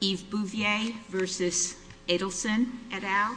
Yves Bouvier versus Adelson et al.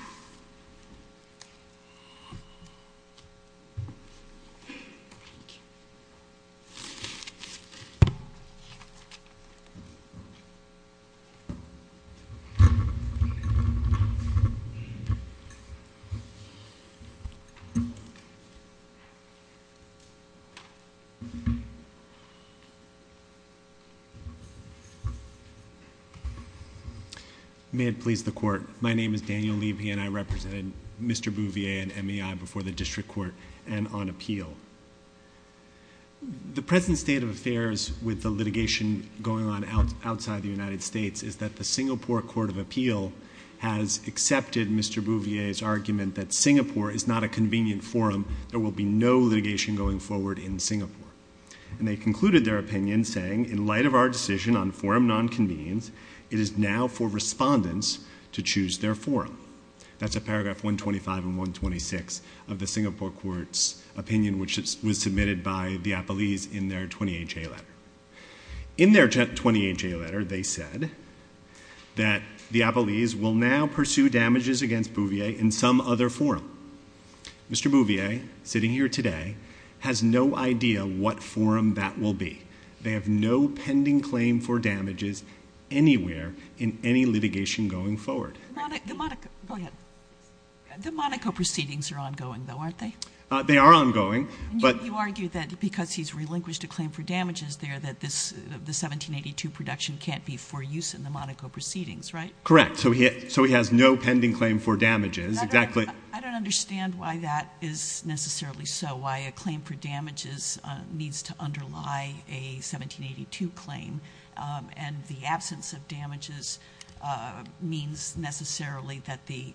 May it please the Court, my name is Daniel Levy and I represent Mr. Bouvier and MEI before the District Court and on appeal. The present state of affairs with the litigation going on outside the United States is that the Singapore Court of Appeal has accepted Mr. Bouvier's argument that Singapore is not a convenient forum, there will be no litigation going forward in Singapore. And they concluded their opinion saying, in light of our decision on forum non-convenience, it is now for respondents to choose their forum. That's at paragraph 125 and 126 of the Singapore Court's opinion which was submitted by the Appellees in their 20HA letter. In their 20HA letter they said that the Appellees will now pursue damages against Bouvier in some other forum. Mr. Bouvier, sitting here today, has no idea what forum that will be. They have no pending claim for damages anywhere in any litigation going forward. The Monaco proceedings are ongoing though, aren't they? They are ongoing. You argue that because he's relinquished a claim for damages there that the 1782 production can't be for use in the Monaco proceedings, right? Correct. So he has no pending claim for damages. I don't understand why that is necessarily so, why a claim for damages needs to underlie a 1782 claim. And the absence of damages means necessarily that the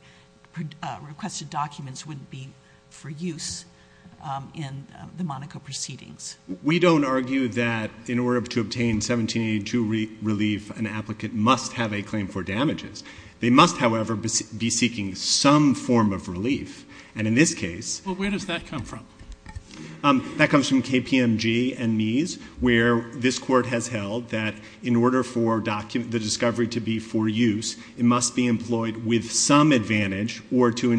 requested documents wouldn't be for use in the Monaco proceedings. We don't argue that in order to obtain 1782 relief, an applicant must have a claim for damages. They must, however, be seeking some form of relief. And in this case... Well, where does that come from? That comes from KPMG and Meese where this Court has held that in order for the discovery to be for use, it must be employed with some advantage or to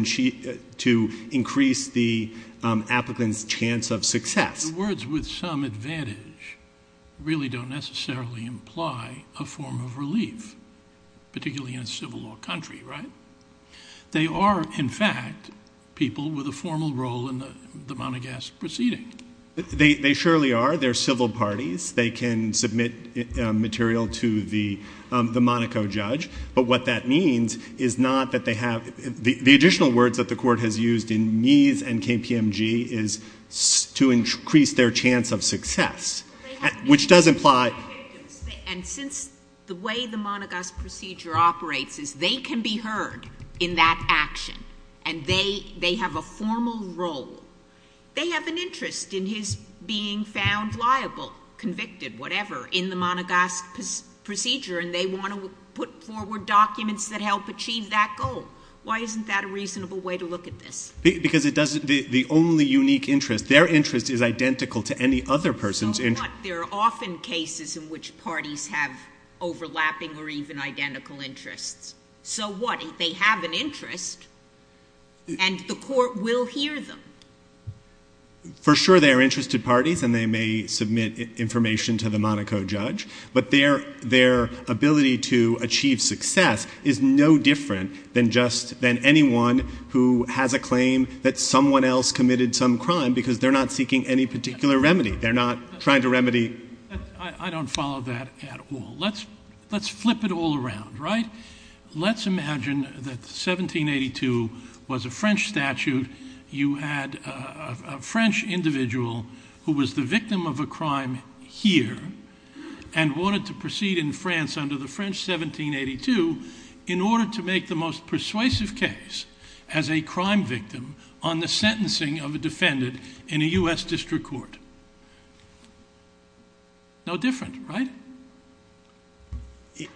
increase the applicant's chance of success. The words with some advantage really don't necessarily imply a form of relief, particularly in a civil law country, right? They are, in fact, people with a formal role in the Monaco proceedings. They surely are. They're civil parties. They can submit material to the Monaco judge. But what that means is not that they have... The additional words that the Court has used in Meese and KPMG is to increase their chance of success, which does imply... And since the way the Monaco procedure operates is they can be heard in that action and they have a formal role, they have an interest in his being found liable, convicted, whatever, in the Monaco procedure and they want to put forward documents that help achieve that goal. Why isn't that a reasonable way to look at this? Because it doesn't... The only unique interest... Their interest is identical to any other person's interest. So what? There are often cases in which parties have overlapping or even identical interests. So what? They have an interest and the Court will hear them. For sure, they are interested parties and they may submit information to the Monaco judge, but their ability to achieve success is no different than anyone who has a claim that someone else committed some crime because they're not seeking any particular remedy. They're not trying to remedy... I don't follow that at all. Let's flip it all around, right? Let's imagine that 1782 was a French statute. You had a French individual who was the victim of a crime here and wanted to proceed in France under the French 1782 in order to make the most persuasive case as a crime victim on the sentencing of a defendant in a US District Court. No different, right?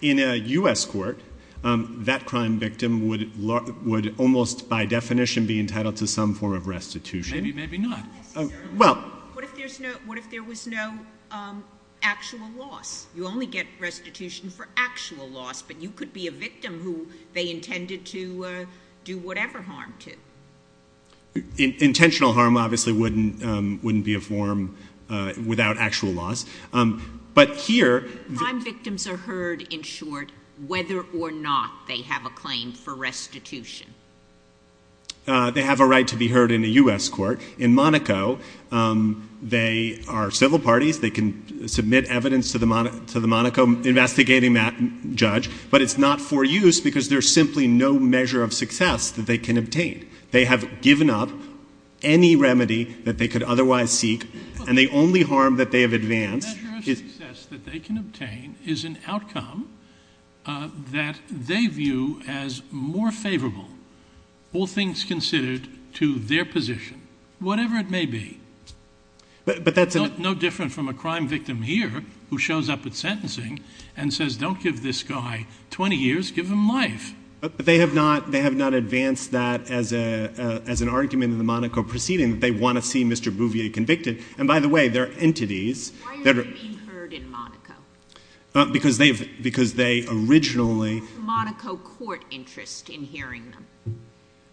In a US court, that crime victim would almost by definition be entitled to some form of restitution. Maybe, maybe not. What if there was no actual loss? You only get restitution for actual loss, but you could be a victim who they intended to do whatever harm to. Intentional harm obviously wouldn't be a form without actual loss. Crime victims are heard, in short, whether or not they have a claim for restitution. They have a right to be heard in a US court. In Monaco, they are civil parties. They can submit evidence to the Monaco investigating judge, but it's not for use because there's simply no measure of success that they can obtain. They have given up any remedy that they could otherwise seek, and the only harm that they have advanced is... The measure of success that they can obtain is an outcome that they view as more favorable, all things considered, to their position, whatever it may be. But that's... No different from a crime victim here who shows up at sentencing and says, don't give this guy 20 years, give him life. But they have not advanced that as an argument in the Monaco proceeding, that they want to see Mr. Bouvier convicted. And by the way, there are entities that are... Why are they being heard in Monaco? Because they originally... What's the Monaco court interest in hearing them?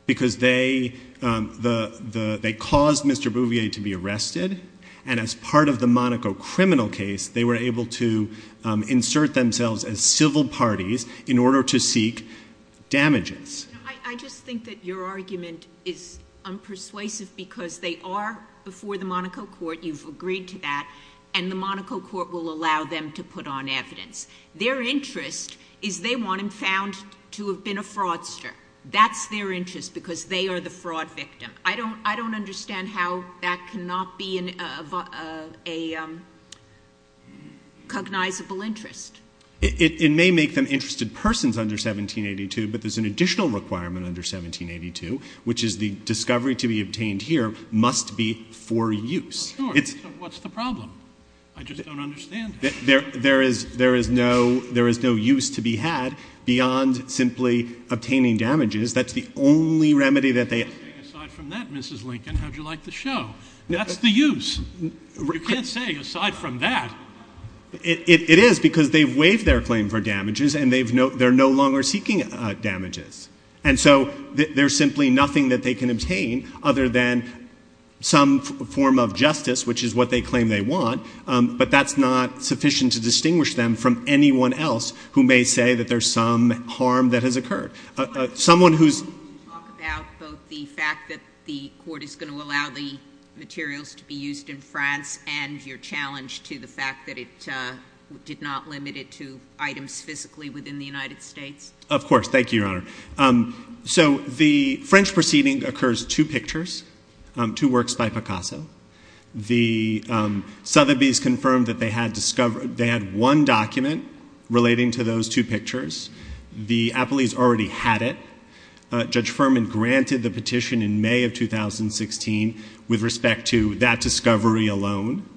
Because they caused Mr. Bouvier to be arrested, and as part of the Monaco criminal case, they were able to insert themselves as civil parties in order to seek damages. I just think that your argument is unpersuasive because they are before the Monaco court, you've agreed to that, and the Monaco court will allow them to put on evidence. Their interest is they want him found to have been a fraudster. That's their interest because they are the fraud victim. I don't understand how that cannot be a cognizable interest. It may make them interested persons under 1782, but there's an additional requirement under 1782, which is the discovery to be obtained here must be for use. What's the problem? I just don't understand. There is no use to be had beyond simply obtaining damages. That's the only remedy that they have. Aside from that, Mrs. Lincoln, how would you like the show? That's the use. You can't say aside from that. It is because they've waived their claim for damages, and they're no longer seeking damages. And so there's simply nothing that they can obtain other than some form of justice, which is what they claim they want, but that's not sufficient to distinguish them from anyone else who may say that there's some harm that has occurred. Can you talk about both the fact that the court is going to allow the materials to be used in France and your challenge to the fact that it did not limit it to items physically within the United States? Of course. Thank you, Your Honor. So the French proceeding occurs two pictures, two works by Picasso. The Sotheby's confirmed that they had one document relating to those two pictures. The appellees already had it. Judge Furman granted the petition in May of 2016 with respect to that discovery alone.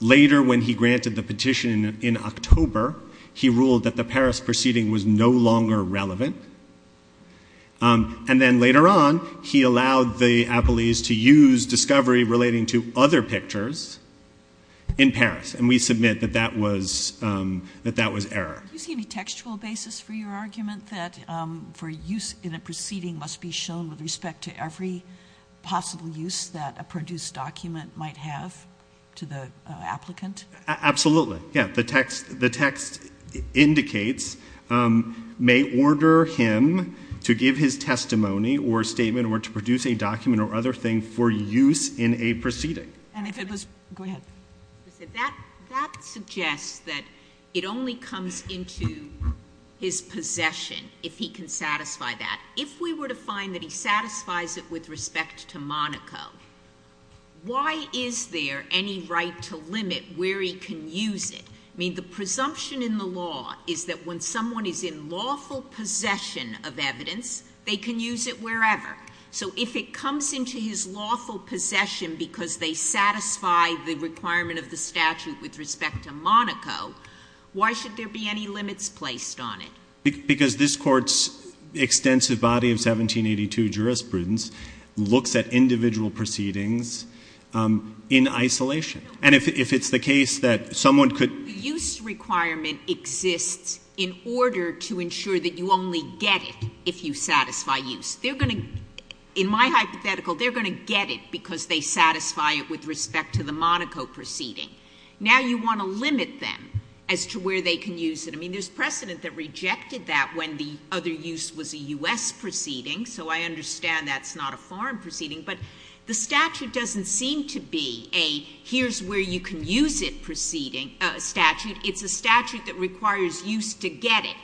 Later, when he granted the petition in October, he ruled that the Paris proceeding was no longer relevant. And then later on, he allowed the appellees to use discovery relating to other pictures in Paris, and we submit that that was error. Do you see any textual basis for your argument that for use in a proceeding must be shown with respect to every possible use that a produced document might have to the applicant? Absolutely. Yeah. The text indicates may order him to give his testimony or statement or to produce a document or other thing for use in a proceeding. And if it was go ahead. That suggests that it only comes into his possession if he can satisfy that. If we were to find that he satisfies it with respect to Monaco, why is there any right to limit where he can use it? I mean, the presumption in the law is that when someone is in lawful possession of evidence, they can use it wherever. So if it comes into his lawful possession because they satisfy the requirement of the statute with respect to Monaco, why should there be any limits placed on it? Because this Court's extensive body of 1782 jurisprudence looks at individual proceedings in isolation. And if it's the case that someone could— The use requirement exists in order to ensure that you only get it if you satisfy use. In my hypothetical, they're going to get it because they satisfy it with respect to the Monaco proceeding. Now you want to limit them as to where they can use it. I mean, there's precedent that rejected that when the other use was a U.S. proceeding. So I understand that's not a foreign proceeding. But the statute doesn't seem to be a here's where you can use it statute. It's a statute that requires use to get it.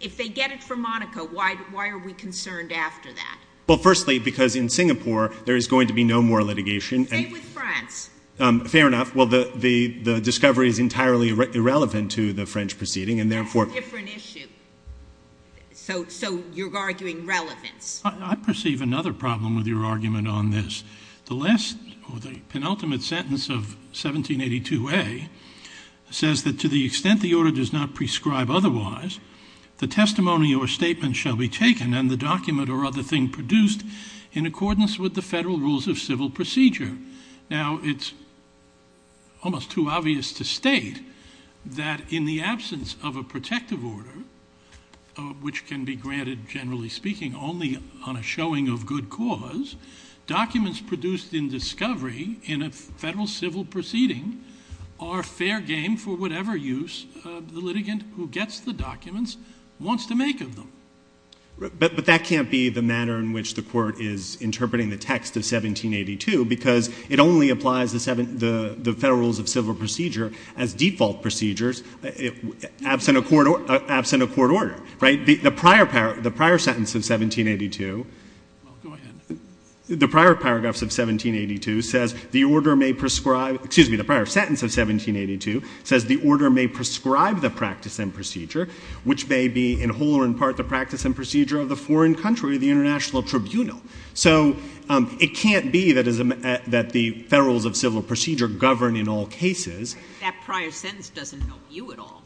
If they get it for Monaco, why are we concerned after that? Well, firstly, because in Singapore there is going to be no more litigation. Same with France. Fair enough. Well, the discovery is entirely irrelevant to the French proceeding, and therefore— That's a different issue. So you're arguing relevance. I perceive another problem with your argument on this. The last or the penultimate sentence of 1782A says that to the extent the order does not prescribe otherwise, Now, it's almost too obvious to state that in the absence of a protective order, which can be granted, generally speaking, only on a showing of good cause, documents produced in discovery in a federal civil proceeding are fair game for whatever use the litigant who gets the documents wants to make of them. But that can't be the manner in which the Court is interpreting the text of 1782 because it only applies the federal rules of civil procedure as default procedures, absent a court order, right? The prior sentence of 1782— Go ahead. The prior paragraphs of 1782 says the order may prescribe—excuse me, the prior sentence of 1782 says the order may prescribe the practice and procedure, which may be in whole or in part the practice and procedure of the foreign country, the international tribunal. So it can't be that the federal rules of civil procedure govern in all cases. That prior sentence doesn't know you at all.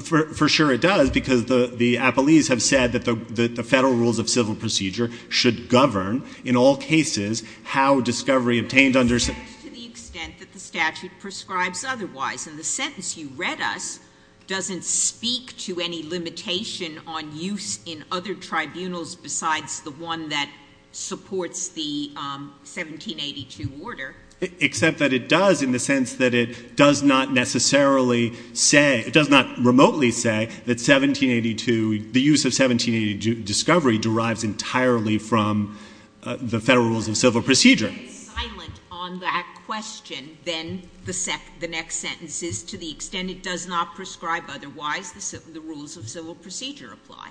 For sure it does because the appellees have said that the federal rules of civil procedure should govern, in all cases, how discovery obtained under— To the extent that the statute prescribes otherwise. And the sentence you read us doesn't speak to any limitation on use in other tribunals besides the one that supports the 1782 order. Except that it does in the sense that it does not necessarily say—it does not remotely say that 1782—the use of 1782 discovery derives entirely from the federal rules of civil procedure. If it is silent on that question, then the next sentence is, to the extent it does not prescribe otherwise, the rules of civil procedure apply.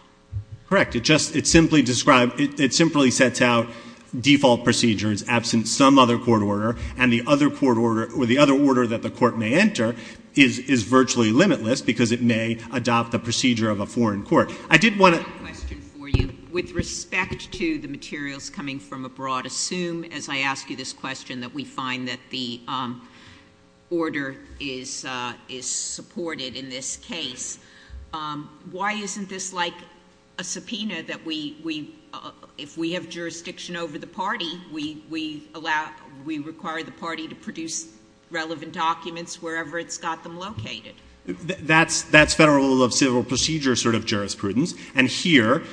Correct. It just—it simply describes—it simply sets out default procedures absent some other court order and the other court order—or the other order that the court may enter is virtually limitless because it may adopt the procedure of a foreign court. I did want to— I have a question for you with respect to the materials coming from abroad. Assume, as I ask you this question, that we find that the order is supported in this case. Why isn't this like a subpoena that we—if we have jurisdiction over the party, we allow—we require the party to produce relevant documents wherever it's got them located? That's federal rule of civil procedure sort of jurisprudence. And here,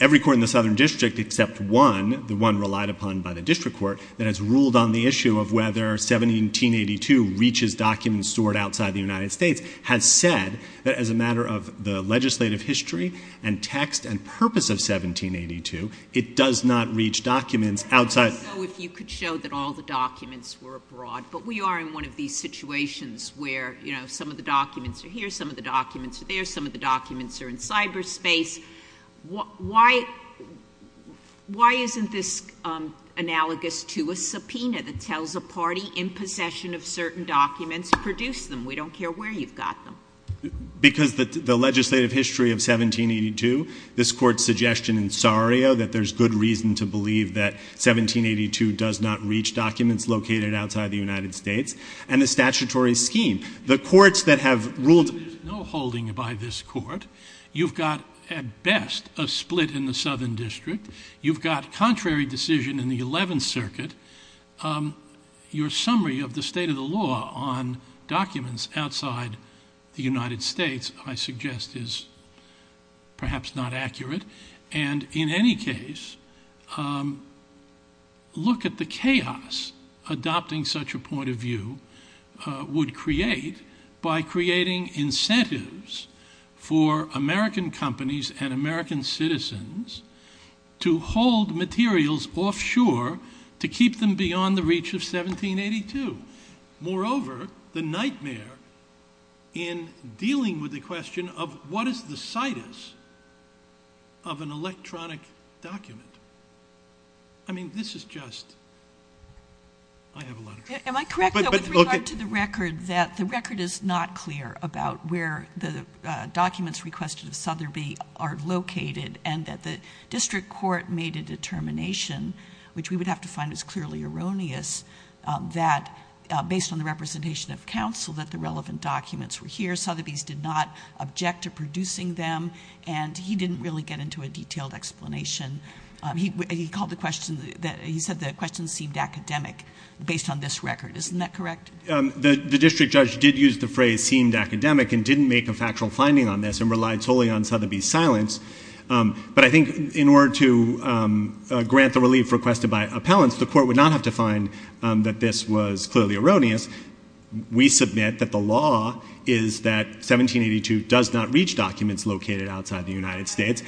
every court in the southern district except one, the one relied upon by the district court, that has ruled on the issue of whether 1782 reaches documents stored outside the United States has said that as a matter of the legislative history and text and purpose of 1782, it does not reach documents outside— So if you could show that all the documents were abroad. But we are in one of these situations where, you know, some of the documents are here, some of the documents are there, some of the documents are in cyberspace. Why isn't this analogous to a subpoena that tells a party in possession of certain documents, produce them, we don't care where you've got them? Because the legislative history of 1782, this court's suggestion in Sario that there's good reason to believe that 1782 does not reach documents located outside the United States, and the statutory scheme. The courts that have ruled— There's no holding by this court. You've got, at best, a split in the southern district. You've got contrary decision in the 11th Circuit. Your summary of the state of the law on documents outside the United States, I suggest, is perhaps not accurate. And in any case, look at the chaos adopting such a point of view would create by creating incentives for American companies and American citizens to hold materials offshore to keep them beyond the reach of 1782. Moreover, the nightmare in dealing with the question of what is the situs of an electronic document. I mean, this is just—I have a lot of trouble. Am I correct, though, with regard to the record, that the record is not clear about where the documents requested of Sotheby are located, and that the district court made a determination, which we would have to find is clearly erroneous, that based on the representation of counsel that the relevant documents were here. Sotheby's did not object to producing them, and he didn't really get into a detailed explanation. He called the question—he said the question seemed academic based on this record. Isn't that correct? The district judge did use the phrase seemed academic and didn't make a factual finding on this and relied solely on Sotheby's silence. But I think in order to grant the relief requested by appellants, the court would not have to find that this was clearly erroneous. We submit that the law is that 1782 does not reach documents located outside the United States.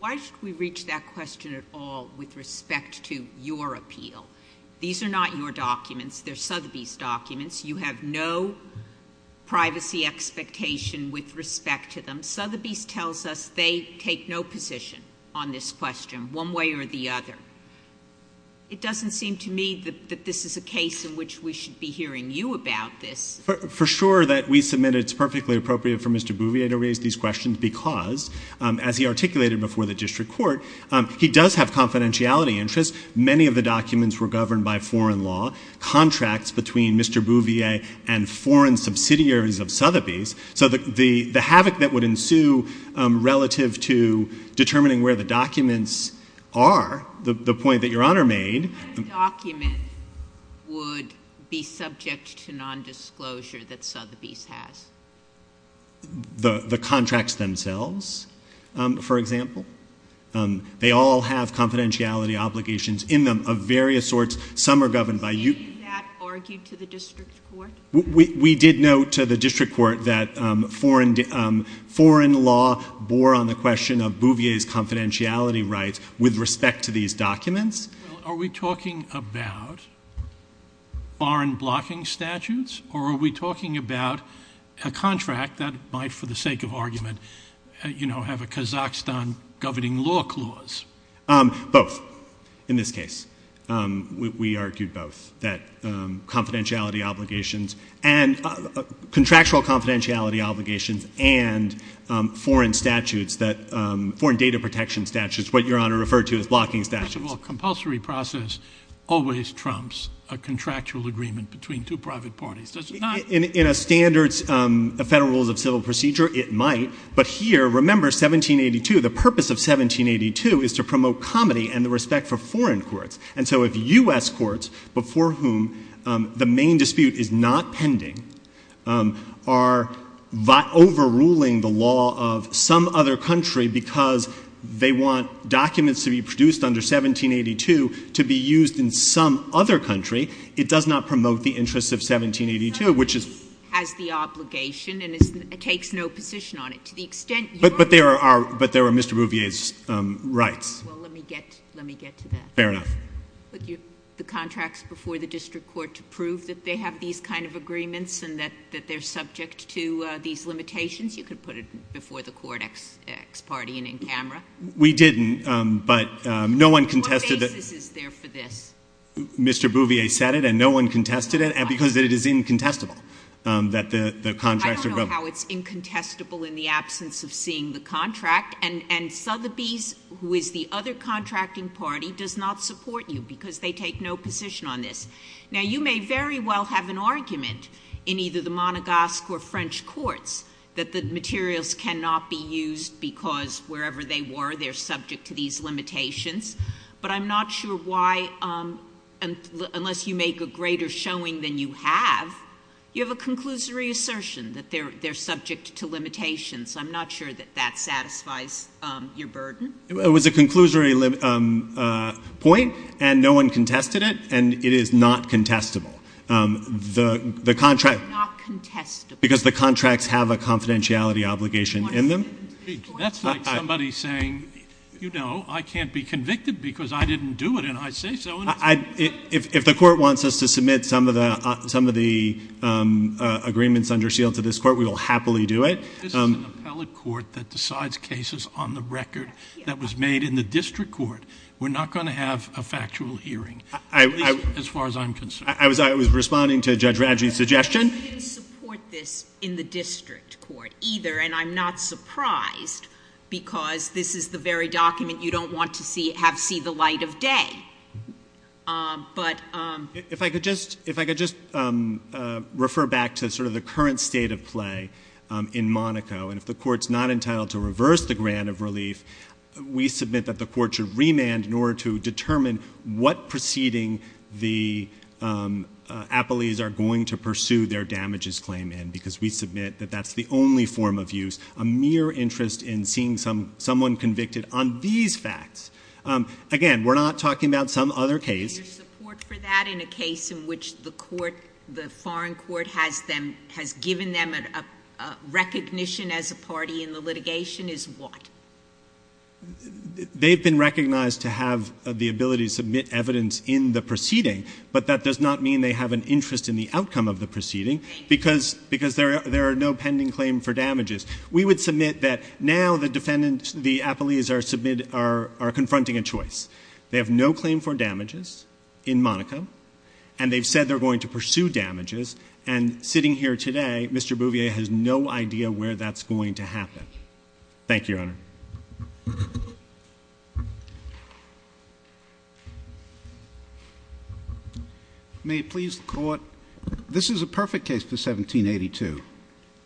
Why should we reach that question at all with respect to your appeal? These are not your documents. They're Sotheby's documents. You have no privacy expectation with respect to them. Sotheby's tells us they take no position on this question one way or the other. It doesn't seem to me that this is a case in which we should be hearing you about this. For sure that we submit it's perfectly appropriate for Mr. Bouvier to raise these questions because, as he articulated before the district court, he does have confidentiality interests. Many of the documents were governed by foreign law, contracts between Mr. Bouvier and foreign subsidiaries of Sotheby's. So the havoc that would ensue relative to determining where the documents are, the point that Your Honor made. What document would be subject to nondisclosure that Sotheby's has? The contracts themselves, for example. They all have confidentiality obligations in them of various sorts. Some are governed by you. Did that argue to the district court? We did note to the district court that foreign law bore on the question of Bouvier's confidentiality rights with respect to these documents. Are we talking about foreign blocking statutes or are we talking about a contract that might, for the sake of argument, have a Kazakhstan governing law clause? Both, in this case. We argued both. That contractual confidentiality obligations and foreign data protection statutes, what Your Honor referred to as blocking statutes. A compulsory process always trumps a contractual agreement between two private parties, does it not? In a standard Federal Rules of Civil Procedure, it might. But here, remember 1782, the purpose of 1782 is to promote comedy and the respect for foreign courts. And so if U.S. courts, before whom the main dispute is not pending, are overruling the law of some other country because they want documents to be produced under 1782 to be used in some other country, it does not promote the interests of 1782, which is— Congress has the obligation and takes no position on it. To the extent Your Honor— But there are Mr. Bouvier's rights. Well, let me get to that. Fair enough. The contracts before the district court to prove that they have these kind of agreements and that they're subject to these limitations. You could put it before the court ex parte and in camera. We didn't, but no one contested that— What basis is there for this? Mr. Bouvier said it and no one contested it because it is incontestable that the contracts are— I don't know how it's incontestable in the absence of seeing the contract. And Sotheby's, who is the other contracting party, does not support you because they take no position on this. Now, you may very well have an argument in either the Monegasque or French courts that the materials cannot be used because wherever they were, they're subject to these limitations. But I'm not sure why, unless you make a greater showing than you have, you have a conclusory assertion that they're subject to limitations. I'm not sure that that satisfies your burden. It was a conclusory point, and no one contested it, and it is not contestable. The contract— Why not contestable? Because the contracts have a confidentiality obligation in them. That's like somebody saying, you know, I can't be convicted because I didn't do it, and I say so. If the court wants us to submit some of the agreements under seal to this court, we will happily do it. This is an appellate court that decides cases on the record that was made in the district court. We're not going to have a factual hearing, at least as far as I'm concerned. I was responding to Judge Radji's suggestion. I didn't support this in the district court either, and I'm not surprised because this is the very document you don't want to have see the light of day. But— If I could just refer back to sort of the current state of play in Monaco, and if the court's not entitled to reverse the grant of relief, we submit that the court should remand in order to determine what proceeding the appellees are going to pursue their damages claim in because we submit that that's the only form of use, a mere interest in seeing someone convicted on these facts. Again, we're not talking about some other case. Your support for that in a case in which the court, the foreign court, has given them a recognition as a party in the litigation is what? They've been recognized to have the ability to submit evidence in the proceeding, but that does not mean they have an interest in the outcome of the proceeding because there are no pending claim for damages. We would submit that now the defendants, the appellees, are confronting a choice. They have no claim for damages in Monaco, and they've said they're going to pursue damages, and sitting here today, Mr. Bouvier has no idea where that's going to happen. Thank you, Your Honor. May it please the court, this is a perfect case for 1782.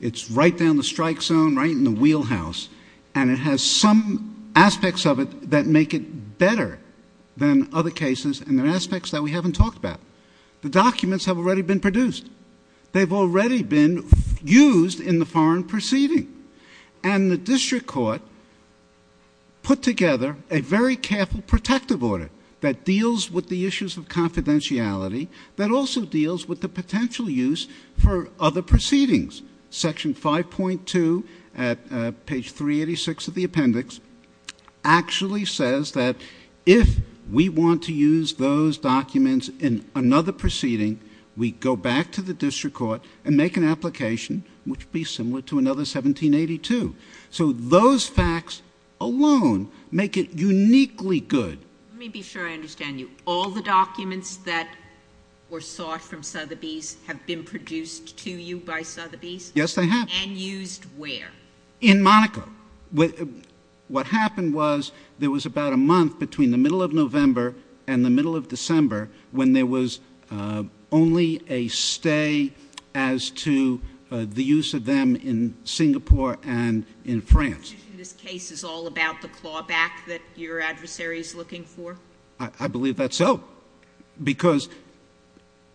It's right down the strike zone, right in the wheelhouse, and it has some aspects of it that make it better than other cases, and there are aspects that we haven't talked about. The documents have already been produced. They've already been used in the foreign proceeding, and the district court put together a very careful protective order that deals with the issues of confidentiality that also deals with the potential use for other proceedings. Section 5.2, page 386 of the appendix, actually says that if we want to use those documents in another proceeding, we go back to the district court and make an application which would be similar to another 1782. So those facts alone make it uniquely good. Let me be sure I understand you. All the documents that were sought from Sotheby's have been produced to you by Sotheby's? Yes, they have. And used where? In Monaco. What happened was there was about a month between the middle of November and the middle of December when there was only a stay as to the use of them in Singapore and in France. This case is all about the clawback that your adversary is looking for? I believe that's so because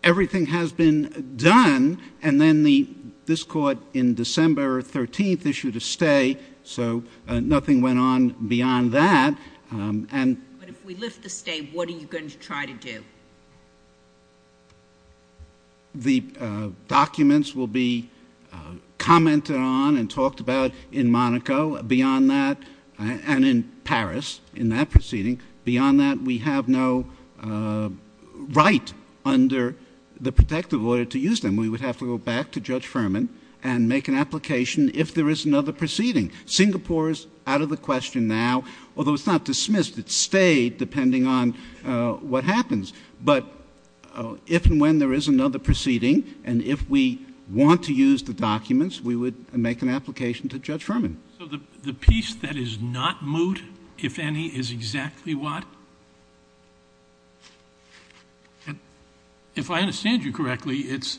everything has been done, and then this court in December 13th issued a stay, so nothing went on beyond that. But if we lift the stay, what are you going to try to do? The documents will be commented on and talked about in Monaco, and in Paris in that proceeding. Beyond that, we have no right under the protective order to use them. We would have to go back to Judge Furman and make an application if there is another proceeding. Singapore is out of the question now, although it's not dismissed. It stayed depending on what happens. But if and when there is another proceeding, and if we want to use the documents, we would make an application to Judge Furman. So the piece that is not moot, if any, is exactly what? If I understand you correctly, it's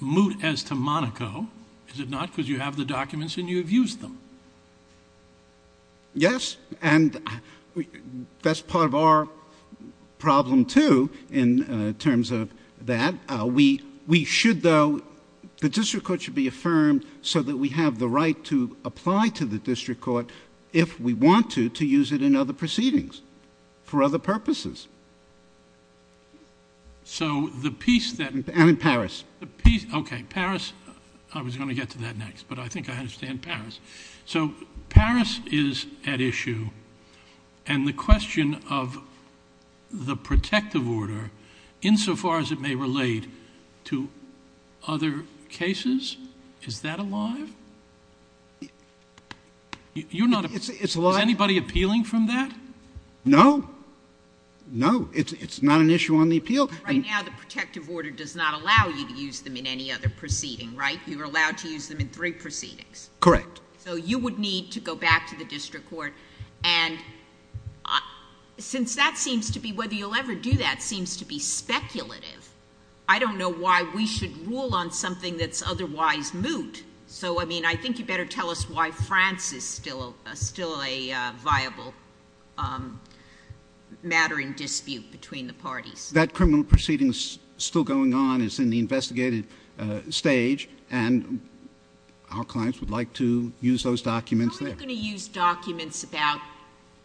moot as to Monaco, is it not, because you have the documents and you have used them? Yes, and that's part of our problem too in terms of that. We should, though, the district court should be affirmed so that we have the right to apply to the district court if we want to, to use it in other proceedings for other purposes. So the piece that... And in Paris. Okay, Paris. I was going to get to that next, but I think I understand Paris. So Paris is at issue, and the question of the protective order, insofar as it may relate to other cases, is that alive? You're not... It's alive. Is anybody appealing from that? No. No, it's not an issue on the appeal. Right now the protective order does not allow you to use them in any other proceeding, right? You are allowed to use them in three proceedings. Correct. So you would need to go back to the district court, and since that seems to be, whether you'll ever do that, seems to be speculative, I don't know why we should rule on something that's otherwise moot. So, I mean, I think you better tell us why France is still a viable matter in dispute between the parties. That criminal proceeding is still going on. It's in the investigative stage, and our clients would like to use those documents there. How are you going to use documents about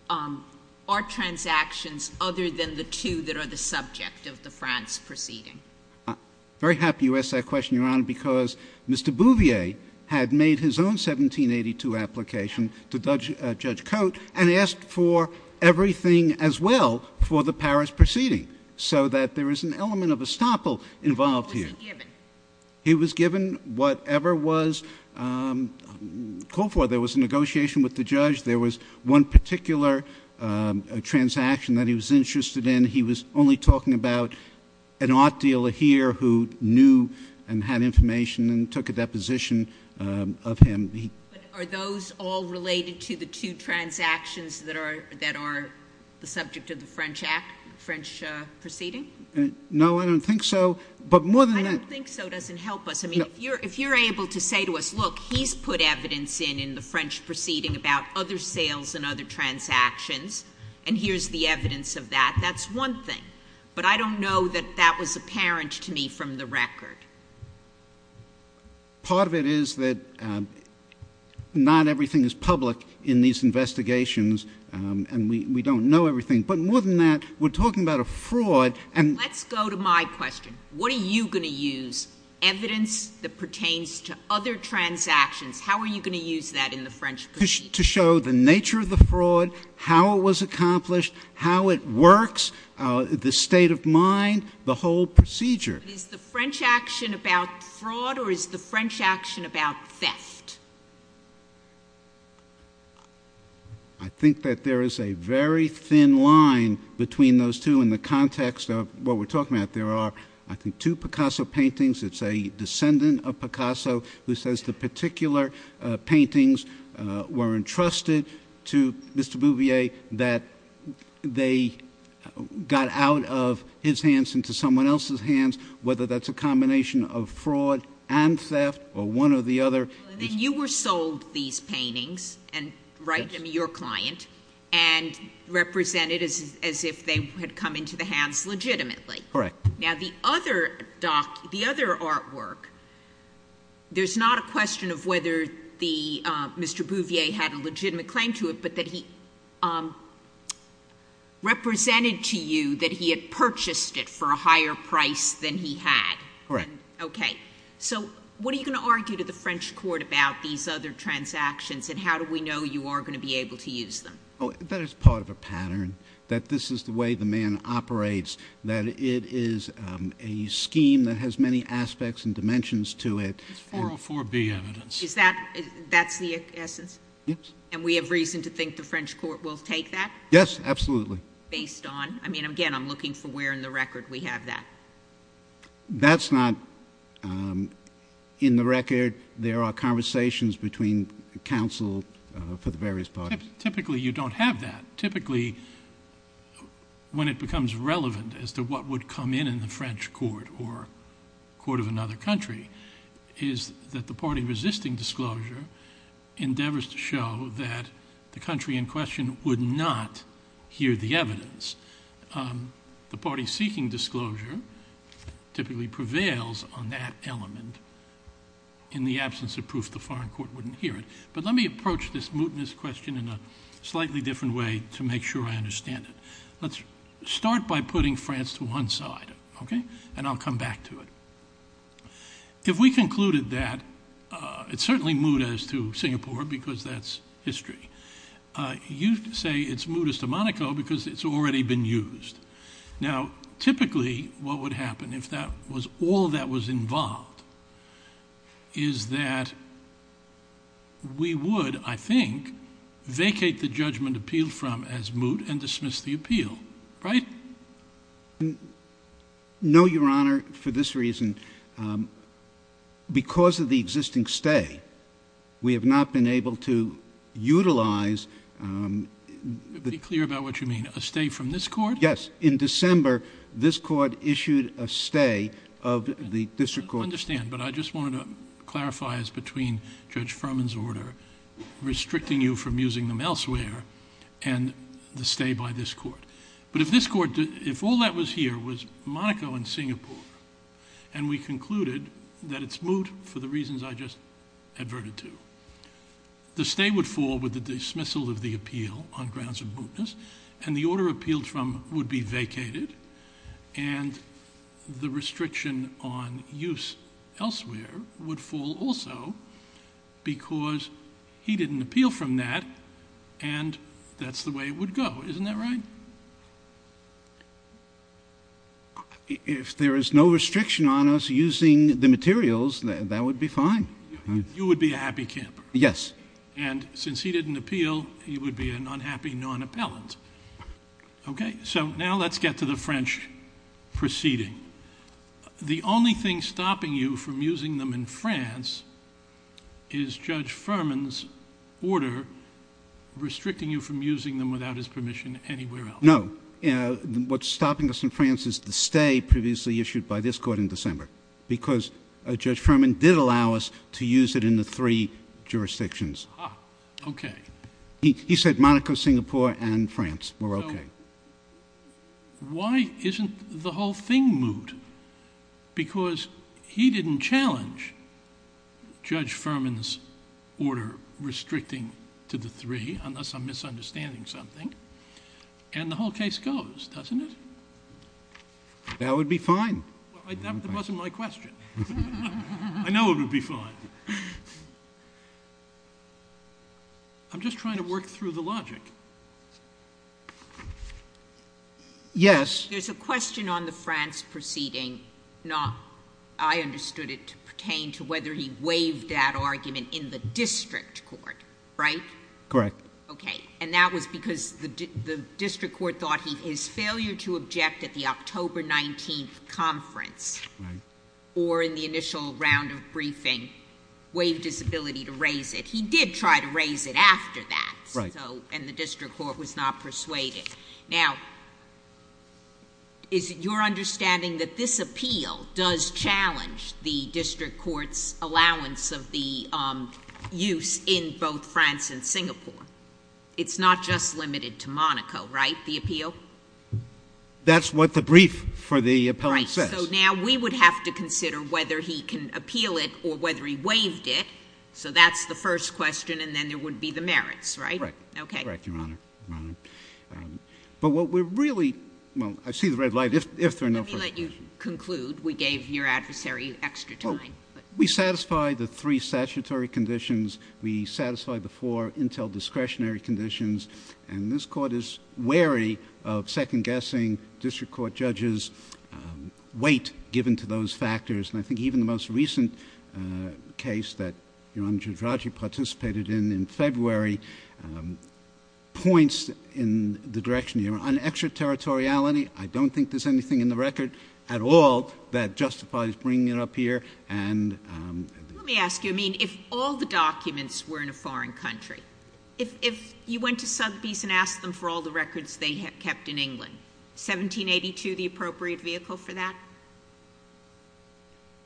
our transactions other than the two that are the subject of the France proceeding? I'm very happy you asked that question, Your Honor, because Mr. Bouvier had made his own 1782 application to Judge Cote, and asked for everything as well for the Paris proceeding, so that there is an element of estoppel involved here. What was he given? He was given whatever was called for. There was a negotiation with the judge. There was one particular transaction that he was interested in. He was only talking about an art dealer here who knew and had information and took a deposition of him. Are those all related to the two transactions that are the subject of the French proceeding? No, I don't think so. I don't think so doesn't help us. I mean, if you're able to say to us, look, he's put evidence in in the French proceeding about other sales and other transactions, and here's the evidence of that, that's one thing. But I don't know that that was apparent to me from the record. Part of it is that not everything is public in these investigations, and we don't know everything. But more than that, we're talking about a fraud. Let's go to my question. What are you going to use, evidence that pertains to other transactions, how are you going to use that in the French proceeding? To show the nature of the fraud, how it was accomplished, how it works, the state of mind, the whole procedure. Is the French action about fraud or is the French action about theft? I think that there is a very thin line between those two in the context of what we're talking about. There are, I think, two Picasso paintings. It's a descendant of Picasso who says the particular paintings were entrusted to Mr. Bouvier that they got out of his hands into someone else's hands, whether that's a combination of fraud and theft or one or the other. You were sold these paintings, right, I mean your client, and represented as if they had come into the hands legitimately. Correct. Now the other artwork, there's not a question of whether Mr. Bouvier had a legitimate claim to it, but that he represented to you that he had purchased it for a higher price than he had. Correct. Okay. So what are you going to argue to the French court about these other transactions and how do we know you are going to be able to use them? That is part of a pattern, that this is the way the man operates, that it is a scheme that has many aspects and dimensions to it. It's 404B evidence. Is that, that's the essence? Yes. And we have reason to think the French court will take that? Yes, absolutely. Based on, I mean, again, I'm looking for where in the record we have that. That's not in the record. There are conversations between counsel for the various parties. Typically you don't have that. Typically when it becomes relevant as to what would come in in the French court or court of another country, is that the party resisting disclosure endeavors to show that the country in question would not hear the evidence. The party seeking disclosure typically prevails on that element in the absence of proof the foreign court wouldn't hear it. But let me approach this mootness question in a slightly different way to make sure I understand it. Let's start by putting France to one side, okay? And I'll come back to it. If we concluded that it's certainly moot as to Singapore because that's history. You say it's moot as to Monaco because it's already been used. Now, typically what would happen if that was all that was involved is that we would, I think, vacate the judgment appealed from as moot and dismiss the appeal, right? No, Your Honor. For this reason, because of the existing stay, we have not been able to utilize. Be clear about what you mean. A stay from this court? Yes. In December, this court issued a stay of the district court. I understand, but I just wanted to clarify as between Judge Furman's order, restricting you from using them elsewhere, and the stay by this court. But if this court, if all that was here was Monaco and Singapore, and we concluded that it's moot for the reasons I just adverted to, the stay would fall with the dismissal of the appeal on grounds of mootness, and the order appealed from would be vacated, and the restriction on use elsewhere would fall also because he didn't appeal from that, and that's the way it would go. Isn't that right? If there is no restriction on us using the materials, that would be fine. You would be a happy camper. Yes. And since he didn't appeal, he would be an unhappy non-appellant. Okay? So now let's get to the French proceeding. The only thing stopping you from using them in France is Judge Furman's order restricting you from using them without his permission anywhere else. No. What's stopping us in France is the stay previously issued by this court in December because Judge Furman did allow us to use it in the three jurisdictions. Ah, okay. He said Monaco, Singapore, and France were okay. So why isn't the whole thing moot? Because he didn't challenge Judge Furman's order restricting to the three, unless I'm misunderstanding something, and the whole case goes, doesn't it? That would be fine. That wasn't my question. I know it would be fine. I'm just trying to work through the logic. Yes. There's a question on the France proceeding. I understood it to pertain to whether he waived that argument in the district court, right? Correct. Okay. And that was because the district court thought his failure to object at the October 19th conference or in the initial round of briefing waived his ability to raise it. He did try to raise it after that. Right. And the district court was not persuaded. Okay. Now, is it your understanding that this appeal does challenge the district court's allowance of the use in both France and Singapore? It's not just limited to Monaco, right, the appeal? That's what the brief for the appellant says. Right. So now we would have to consider whether he can appeal it or whether he waived it. So that's the first question, and then there would be the merits, right? Correct. Okay. Correct, Your Honor. Your Honor. But what we're really, well, I see the red light if there are no further questions. Let me let you conclude. We gave your adversary extra time. We satisfy the three statutory conditions. We satisfy the four intel discretionary conditions. And this Court is wary of second-guessing district court judges' weight given to those factors. And I think even the most recent case that Your Honor, Judge Raju participated in, in February, points in the direction, Your Honor, on extraterritoriality, I don't think there's anything in the record at all that justifies bringing it up here. Let me ask you, I mean, if all the documents were in a foreign country, if you went to Sotheby's and asked them for all the records they had kept in England, 1782 the appropriate vehicle for that?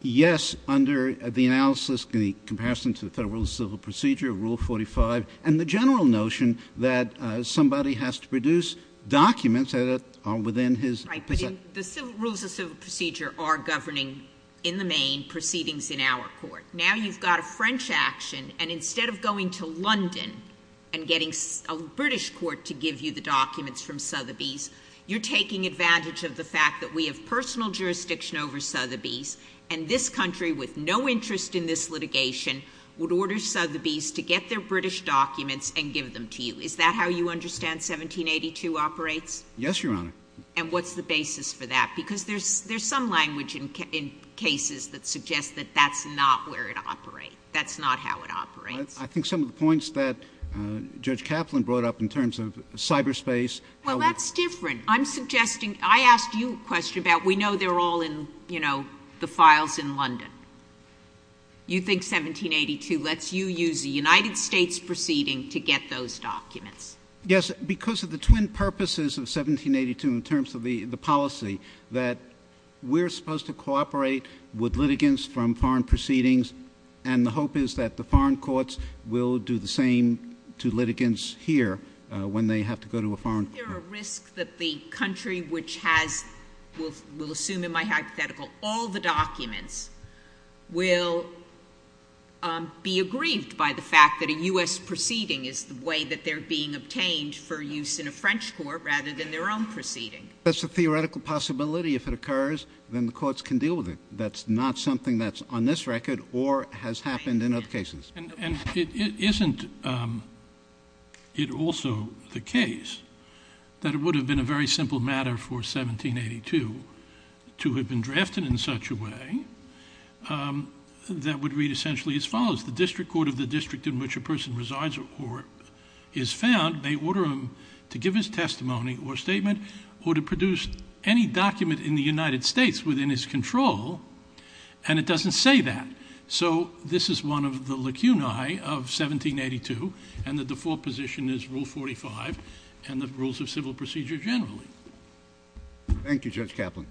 Yes, under the analysis in comparison to the Federal Civil Procedure, Rule 45, and the general notion that somebody has to produce documents that are within his possession. Right, but the rules of civil procedure are governing, in the main, proceedings in our court. Now you've got a French action, and instead of going to London and getting a British court to give you the documents from Sotheby's, you're taking advantage of the fact that we have personal jurisdiction over Sotheby's, and this country, with no interest in this litigation, would order Sotheby's to get their British documents and give them to you. Is that how you understand 1782 operates? Yes, Your Honor. And what's the basis for that? Because there's some language in cases that suggests that that's not where it operates. That's not how it operates. I think some of the points that Judge Kaplan brought up in terms of cyberspace. Well, that's different. I'm suggesting, I asked you a question about we know they're all in, you know, the files in London. You think 1782 lets you use a United States proceeding to get those documents. Yes, because of the twin purposes of 1782 in terms of the policy, that we're supposed to cooperate with litigants from foreign proceedings, and the hope is that the foreign courts will do the same to litigants here when they have to go to a foreign court. Is there a risk that the country which has, we'll assume in my hypothetical, all the documents will be aggrieved by the fact that a U.S. proceeding is the way that they're being obtained for use in a French court rather than their own proceeding? That's a theoretical possibility. If it occurs, then the courts can deal with it. That's not something that's on this record or has happened in other cases. And it isn't it also the case that it would have been a very simple matter for 1782 to have been drafted in such a way that would read essentially as follows. The district court of the district in which a person resides or is found may order him to give his testimony or statement or to produce any document in the United States within his control, and it doesn't say that. So this is one of the lacunae of 1782, and the default position is Rule 45 and the rules of civil procedure generally. Thank you, Judge Kaplan.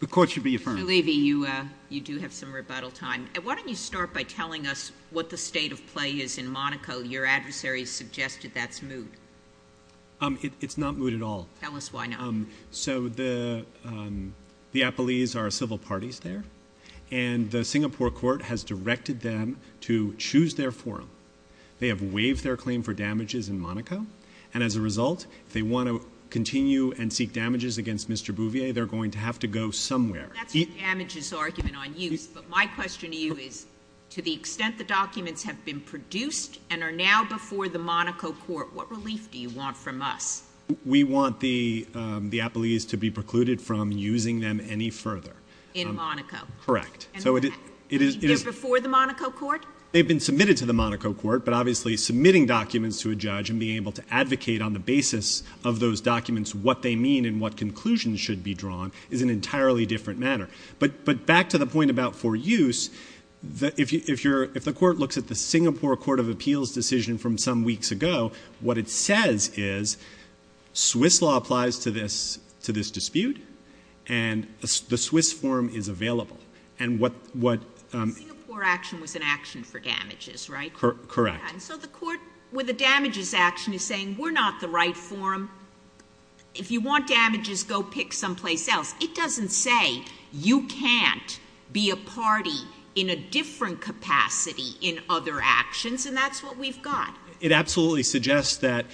The court should be affirmed. Mr. Levy, you do have some rebuttal time. Why don't you start by telling us what the state of play is in Monaco? Well, your adversary suggested that's moot. It's not moot at all. Tell us why not. So the appellees are civil parties there, and the Singapore court has directed them to choose their forum. They have waived their claim for damages in Monaco, and as a result, if they want to continue and seek damages against Mr. Bouvier, they're going to have to go somewhere. That's the damages argument on use, but my question to you is to the extent the documents have been produced and are now before the Monaco court, what relief do you want from us? We want the appellees to be precluded from using them any further. In Monaco? Correct. And they're before the Monaco court? They've been submitted to the Monaco court, but obviously submitting documents to a judge and being able to advocate on the basis of those documents what they mean and what conclusions should be drawn is an entirely different matter. But back to the point about for use, if the court looks at the Singapore court of appeals decision from some weeks ago, what it says is Swiss law applies to this dispute, and the Swiss forum is available. Singapore action was an action for damages, right? Correct. So the court with the damages action is saying we're not the right forum. If you want damages, go pick someplace else. It doesn't say you can't be a party in a different capacity in other actions, and that's what we've got. It absolutely suggests that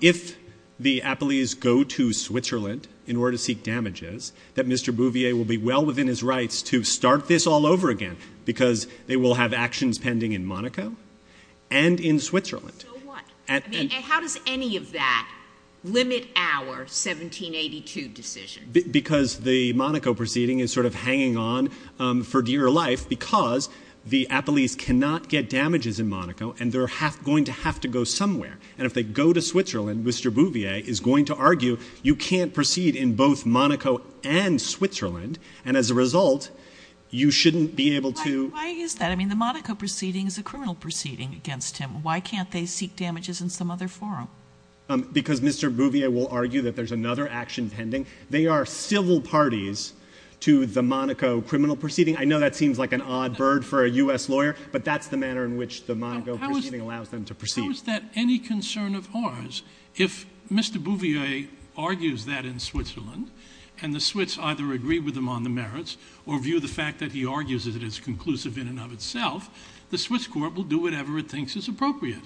if the appellees go to Switzerland in order to seek damages, that Mr. Bouvier will be well within his rights to start this all over again because they will have actions pending in Monaco and in Switzerland. So what? And how does any of that limit our 1782 decision? Because the Monaco proceeding is sort of hanging on for dear life because the appellees cannot get damages in Monaco, and they're going to have to go somewhere. And if they go to Switzerland, Mr. Bouvier is going to argue you can't proceed in both Monaco and Switzerland, and as a result, you shouldn't be able to— Why is that? I mean, the Monaco proceeding is a criminal proceeding against him. Why can't they seek damages in some other forum? Because Mr. Bouvier will argue that there's another action pending. They are civil parties to the Monaco criminal proceeding. I know that seems like an odd bird for a U.S. lawyer, but that's the manner in which the Monaco proceeding allows them to proceed. How is that any concern of ours if Mr. Bouvier argues that in Switzerland and the Swiss either agree with him on the merits or view the fact that he argues it as conclusive in and of itself, the Swiss court will do whatever it thinks is appropriate?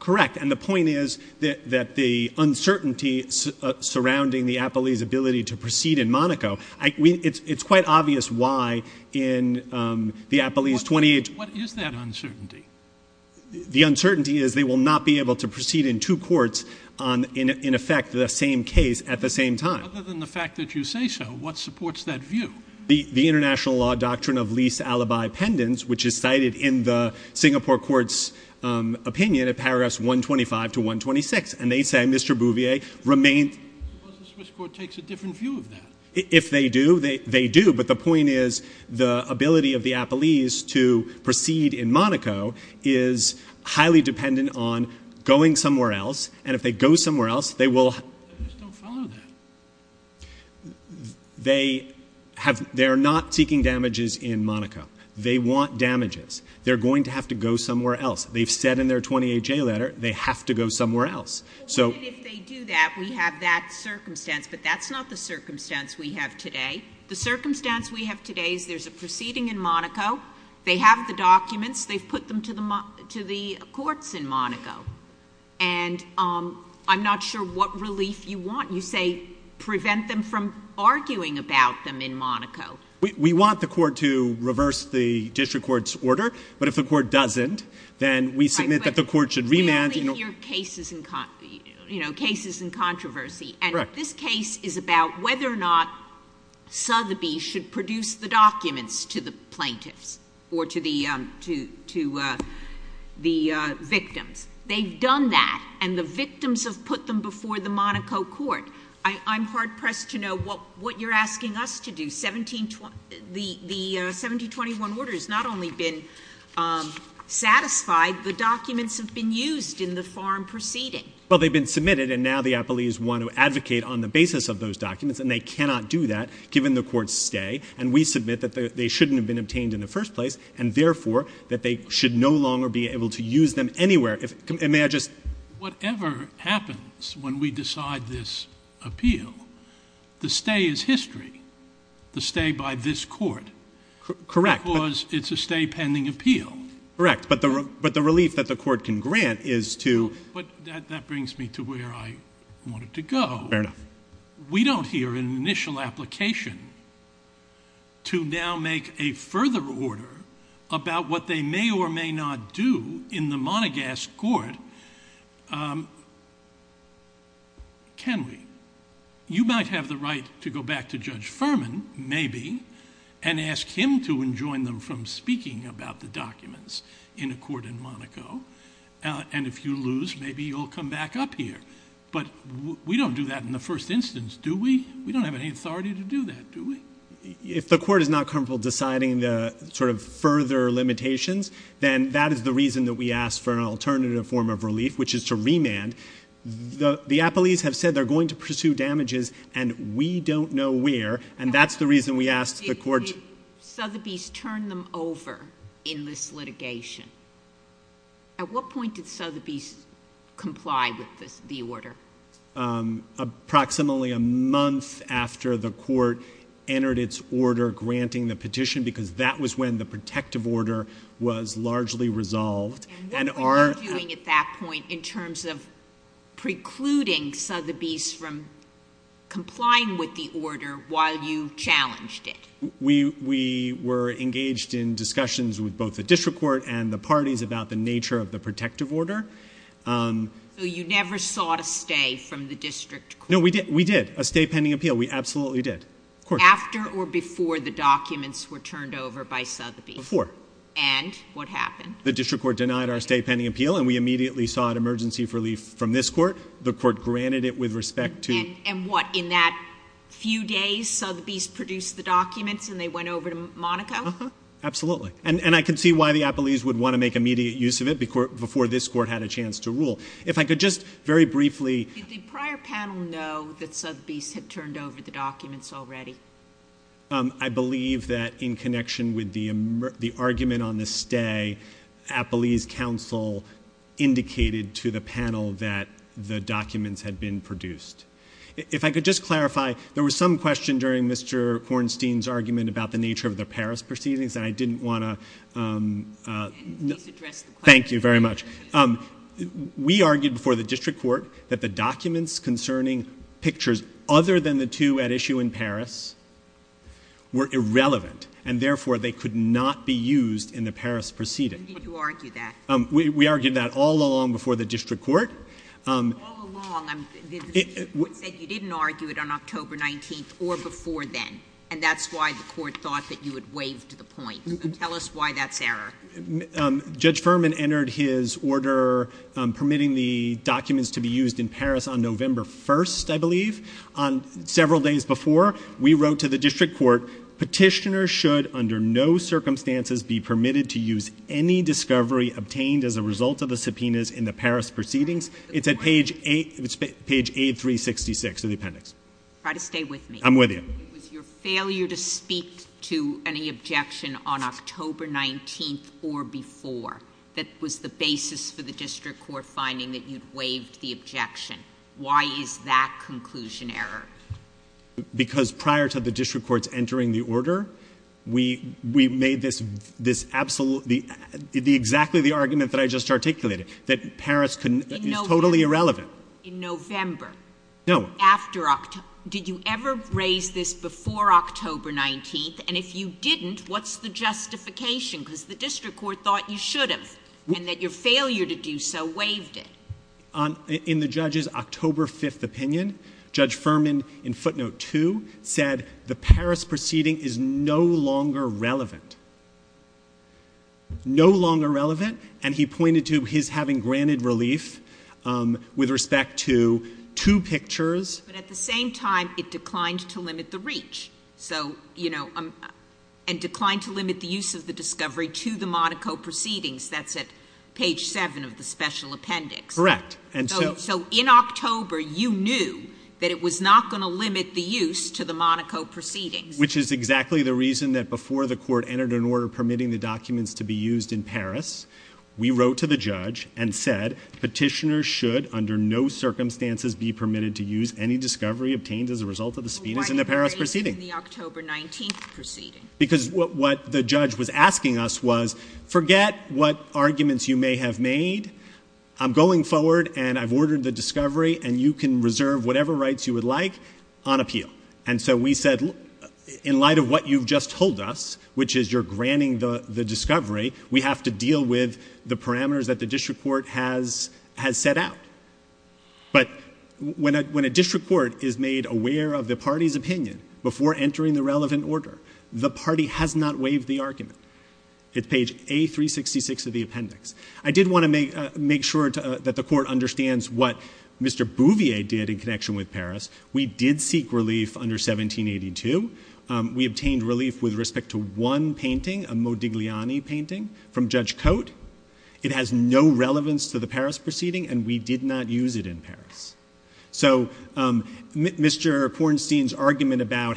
Correct, and the point is that the uncertainty surrounding the appellee's ability to proceed in Monaco, it's quite obvious why in the appellee's 28— What is that uncertainty? The uncertainty is they will not be able to proceed in two courts in effect the same case at the same time. Other than the fact that you say so, what supports that view? The international law doctrine of lease alibi pendants, which is cited in the Singapore court's opinion in paragraphs 125 to 126, and they say Mr. Bouvier remained— I suppose the Swiss court takes a different view of that. If they do, they do, but the point is the ability of the appellees to proceed in Monaco is highly dependent on going somewhere else, and if they go somewhere else, they will— They just don't follow that. They have—they're not seeking damages in Monaco. They want damages. They're going to have to go somewhere else. They've said in their 28J letter they have to go somewhere else. So— Well, even if they do that, we have that circumstance, but that's not the circumstance we have today. The circumstance we have today is there's a proceeding in Monaco. They have the documents. They've put them to the courts in Monaco, and I'm not sure what relief you want. You say prevent them from arguing about them in Monaco. We want the court to reverse the district court's order, but if the court doesn't, then we submit that the court should remand— You're leaving your cases in controversy, and this case is about whether or not Sotheby should produce the documents to the plaintiffs or to the victims. They've done that, and the victims have put them before the Monaco court. I'm hard-pressed to know what you're asking us to do. The 1721 order has not only been satisfied, the documents have been used in the farm proceeding. Well, they've been submitted, and now the appellees want to advocate on the basis of those documents, and they cannot do that given the court's stay, and we submit that they shouldn't have been obtained in the first place, and therefore that they should no longer be able to use them anywhere. May I just— Whatever happens when we decide this appeal, the stay is history, the stay by this court. Correct. Because it's a stay pending appeal. Correct, but the relief that the court can grant is to— But that brings me to where I wanted to go. Fair enough. We don't hear an initial application to now make a further order about what they may or may not do in the Monagas court, can we? You might have the right to go back to Judge Furman, maybe, and ask him to enjoin them from speaking about the documents in a court in Monaco, and if you lose, maybe you'll come back up here, but we don't do that in the first instance, do we? We don't have any authority to do that, do we? If the court is not comfortable deciding the sort of further limitations, then that is the reason that we ask for an alternative form of relief, which is to remand. The appellees have said they're going to pursue damages, and we don't know where, and that's the reason we asked the court— Did Sotheby's turn them over in this litigation? At what point did Sotheby's comply with the order? Approximately a month after the court entered its order granting the petition, because that was when the protective order was largely resolved. And what were you doing at that point in terms of precluding Sotheby's from complying with the order while you challenged it? We were engaged in discussions with both the district court and the parties about the nature of the protective order. So you never sought a stay from the district court? No, we did, a stay pending appeal. We absolutely did. After or before the documents were turned over by Sotheby's? Before. And what happened? The district court denied our stay pending appeal, and we immediately sought emergency relief from this court. The court granted it with respect to— And what, in that few days Sotheby's produced the documents and they went over to Monaco? Absolutely. And I can see why the Appellees would want to make immediate use of it before this court had a chance to rule. If I could just very briefly— Did the prior panel know that Sotheby's had turned over the documents already? I believe that in connection with the argument on the stay, the Appellees' counsel indicated to the panel that the documents had been produced. If I could just clarify, there was some question during Mr. Kornstein's argument about the nature of the Paris proceedings, and I didn't want to— Please address the question. Thank you very much. We argued before the district court that the documents concerning pictures other than the two at issue in Paris were irrelevant, and therefore they could not be used in the Paris proceeding. When did you argue that? We argued that all along before the district court. All along? The district court said you didn't argue it on October 19th or before then, and that's why the court thought that you had waived the point. Tell us why that's error. Judge Furman entered his order permitting the documents to be used in Paris on November 1st, I believe. Several days before, we wrote to the district court, Petitioners should under no circumstances be permitted to use any discovery obtained as a result of the subpoenas in the Paris proceedings. It's at page 8366 of the appendix. Try to stay with me. I'm with you. It was your failure to speak to any objection on October 19th or before that was the basis for the district court finding that you'd waived the objection. Why is that conclusion error? Because prior to the district court's entering the order, we made this absolutely, exactly the argument that I just articulated, that Paris is totally irrelevant. In November? No. After October. Did you ever raise this before October 19th? And if you didn't, what's the justification? Because the district court thought you should have, and that your failure to do so waived it. In the judge's October 5th opinion, Judge Furman in footnote 2 said the Paris proceeding is no longer relevant. No longer relevant. And he pointed to his having granted relief with respect to two pictures. But at the same time, it declined to limit the reach, and declined to limit the use of the discovery to the Monaco proceedings. That's at page 7 of the special appendix. Correct. So in October, you knew that it was not going to limit the use to the Monaco proceedings. Which is exactly the reason that before the court entered an order permitting the documents to be used in Paris, we wrote to the judge and said, Petitioners should under no circumstances be permitted to use any discovery obtained as a result of the speediness in the Paris proceeding. Why did you raise it in the October 19th proceeding? Because what the judge was asking us was, forget what arguments you may have made. I'm going forward, and I've ordered the discovery, and you can reserve whatever rights you would like on appeal. And so we said, in light of what you've just told us, which is you're granting the discovery, we have to deal with the parameters that the district court has set out. But when a district court is made aware of the party's opinion before entering the relevant order, the party has not waived the argument. It's page A366 of the appendix. I did want to make sure that the court understands what Mr. Bouvier did in connection with Paris. We did seek relief under 1782. We obtained relief with respect to one painting, a Modigliani painting from Judge Cote. It has no relevance to the Paris proceeding, and we did not use it in Paris. So Mr. Kornstein's argument about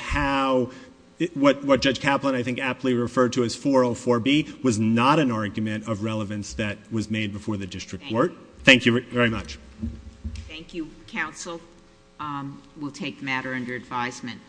what Judge Kaplan, I think, aptly referred to as 404B was not an argument of relevance that was made before the district court. Thank you very much. Thank you, counsel. We'll take the matter under advisement.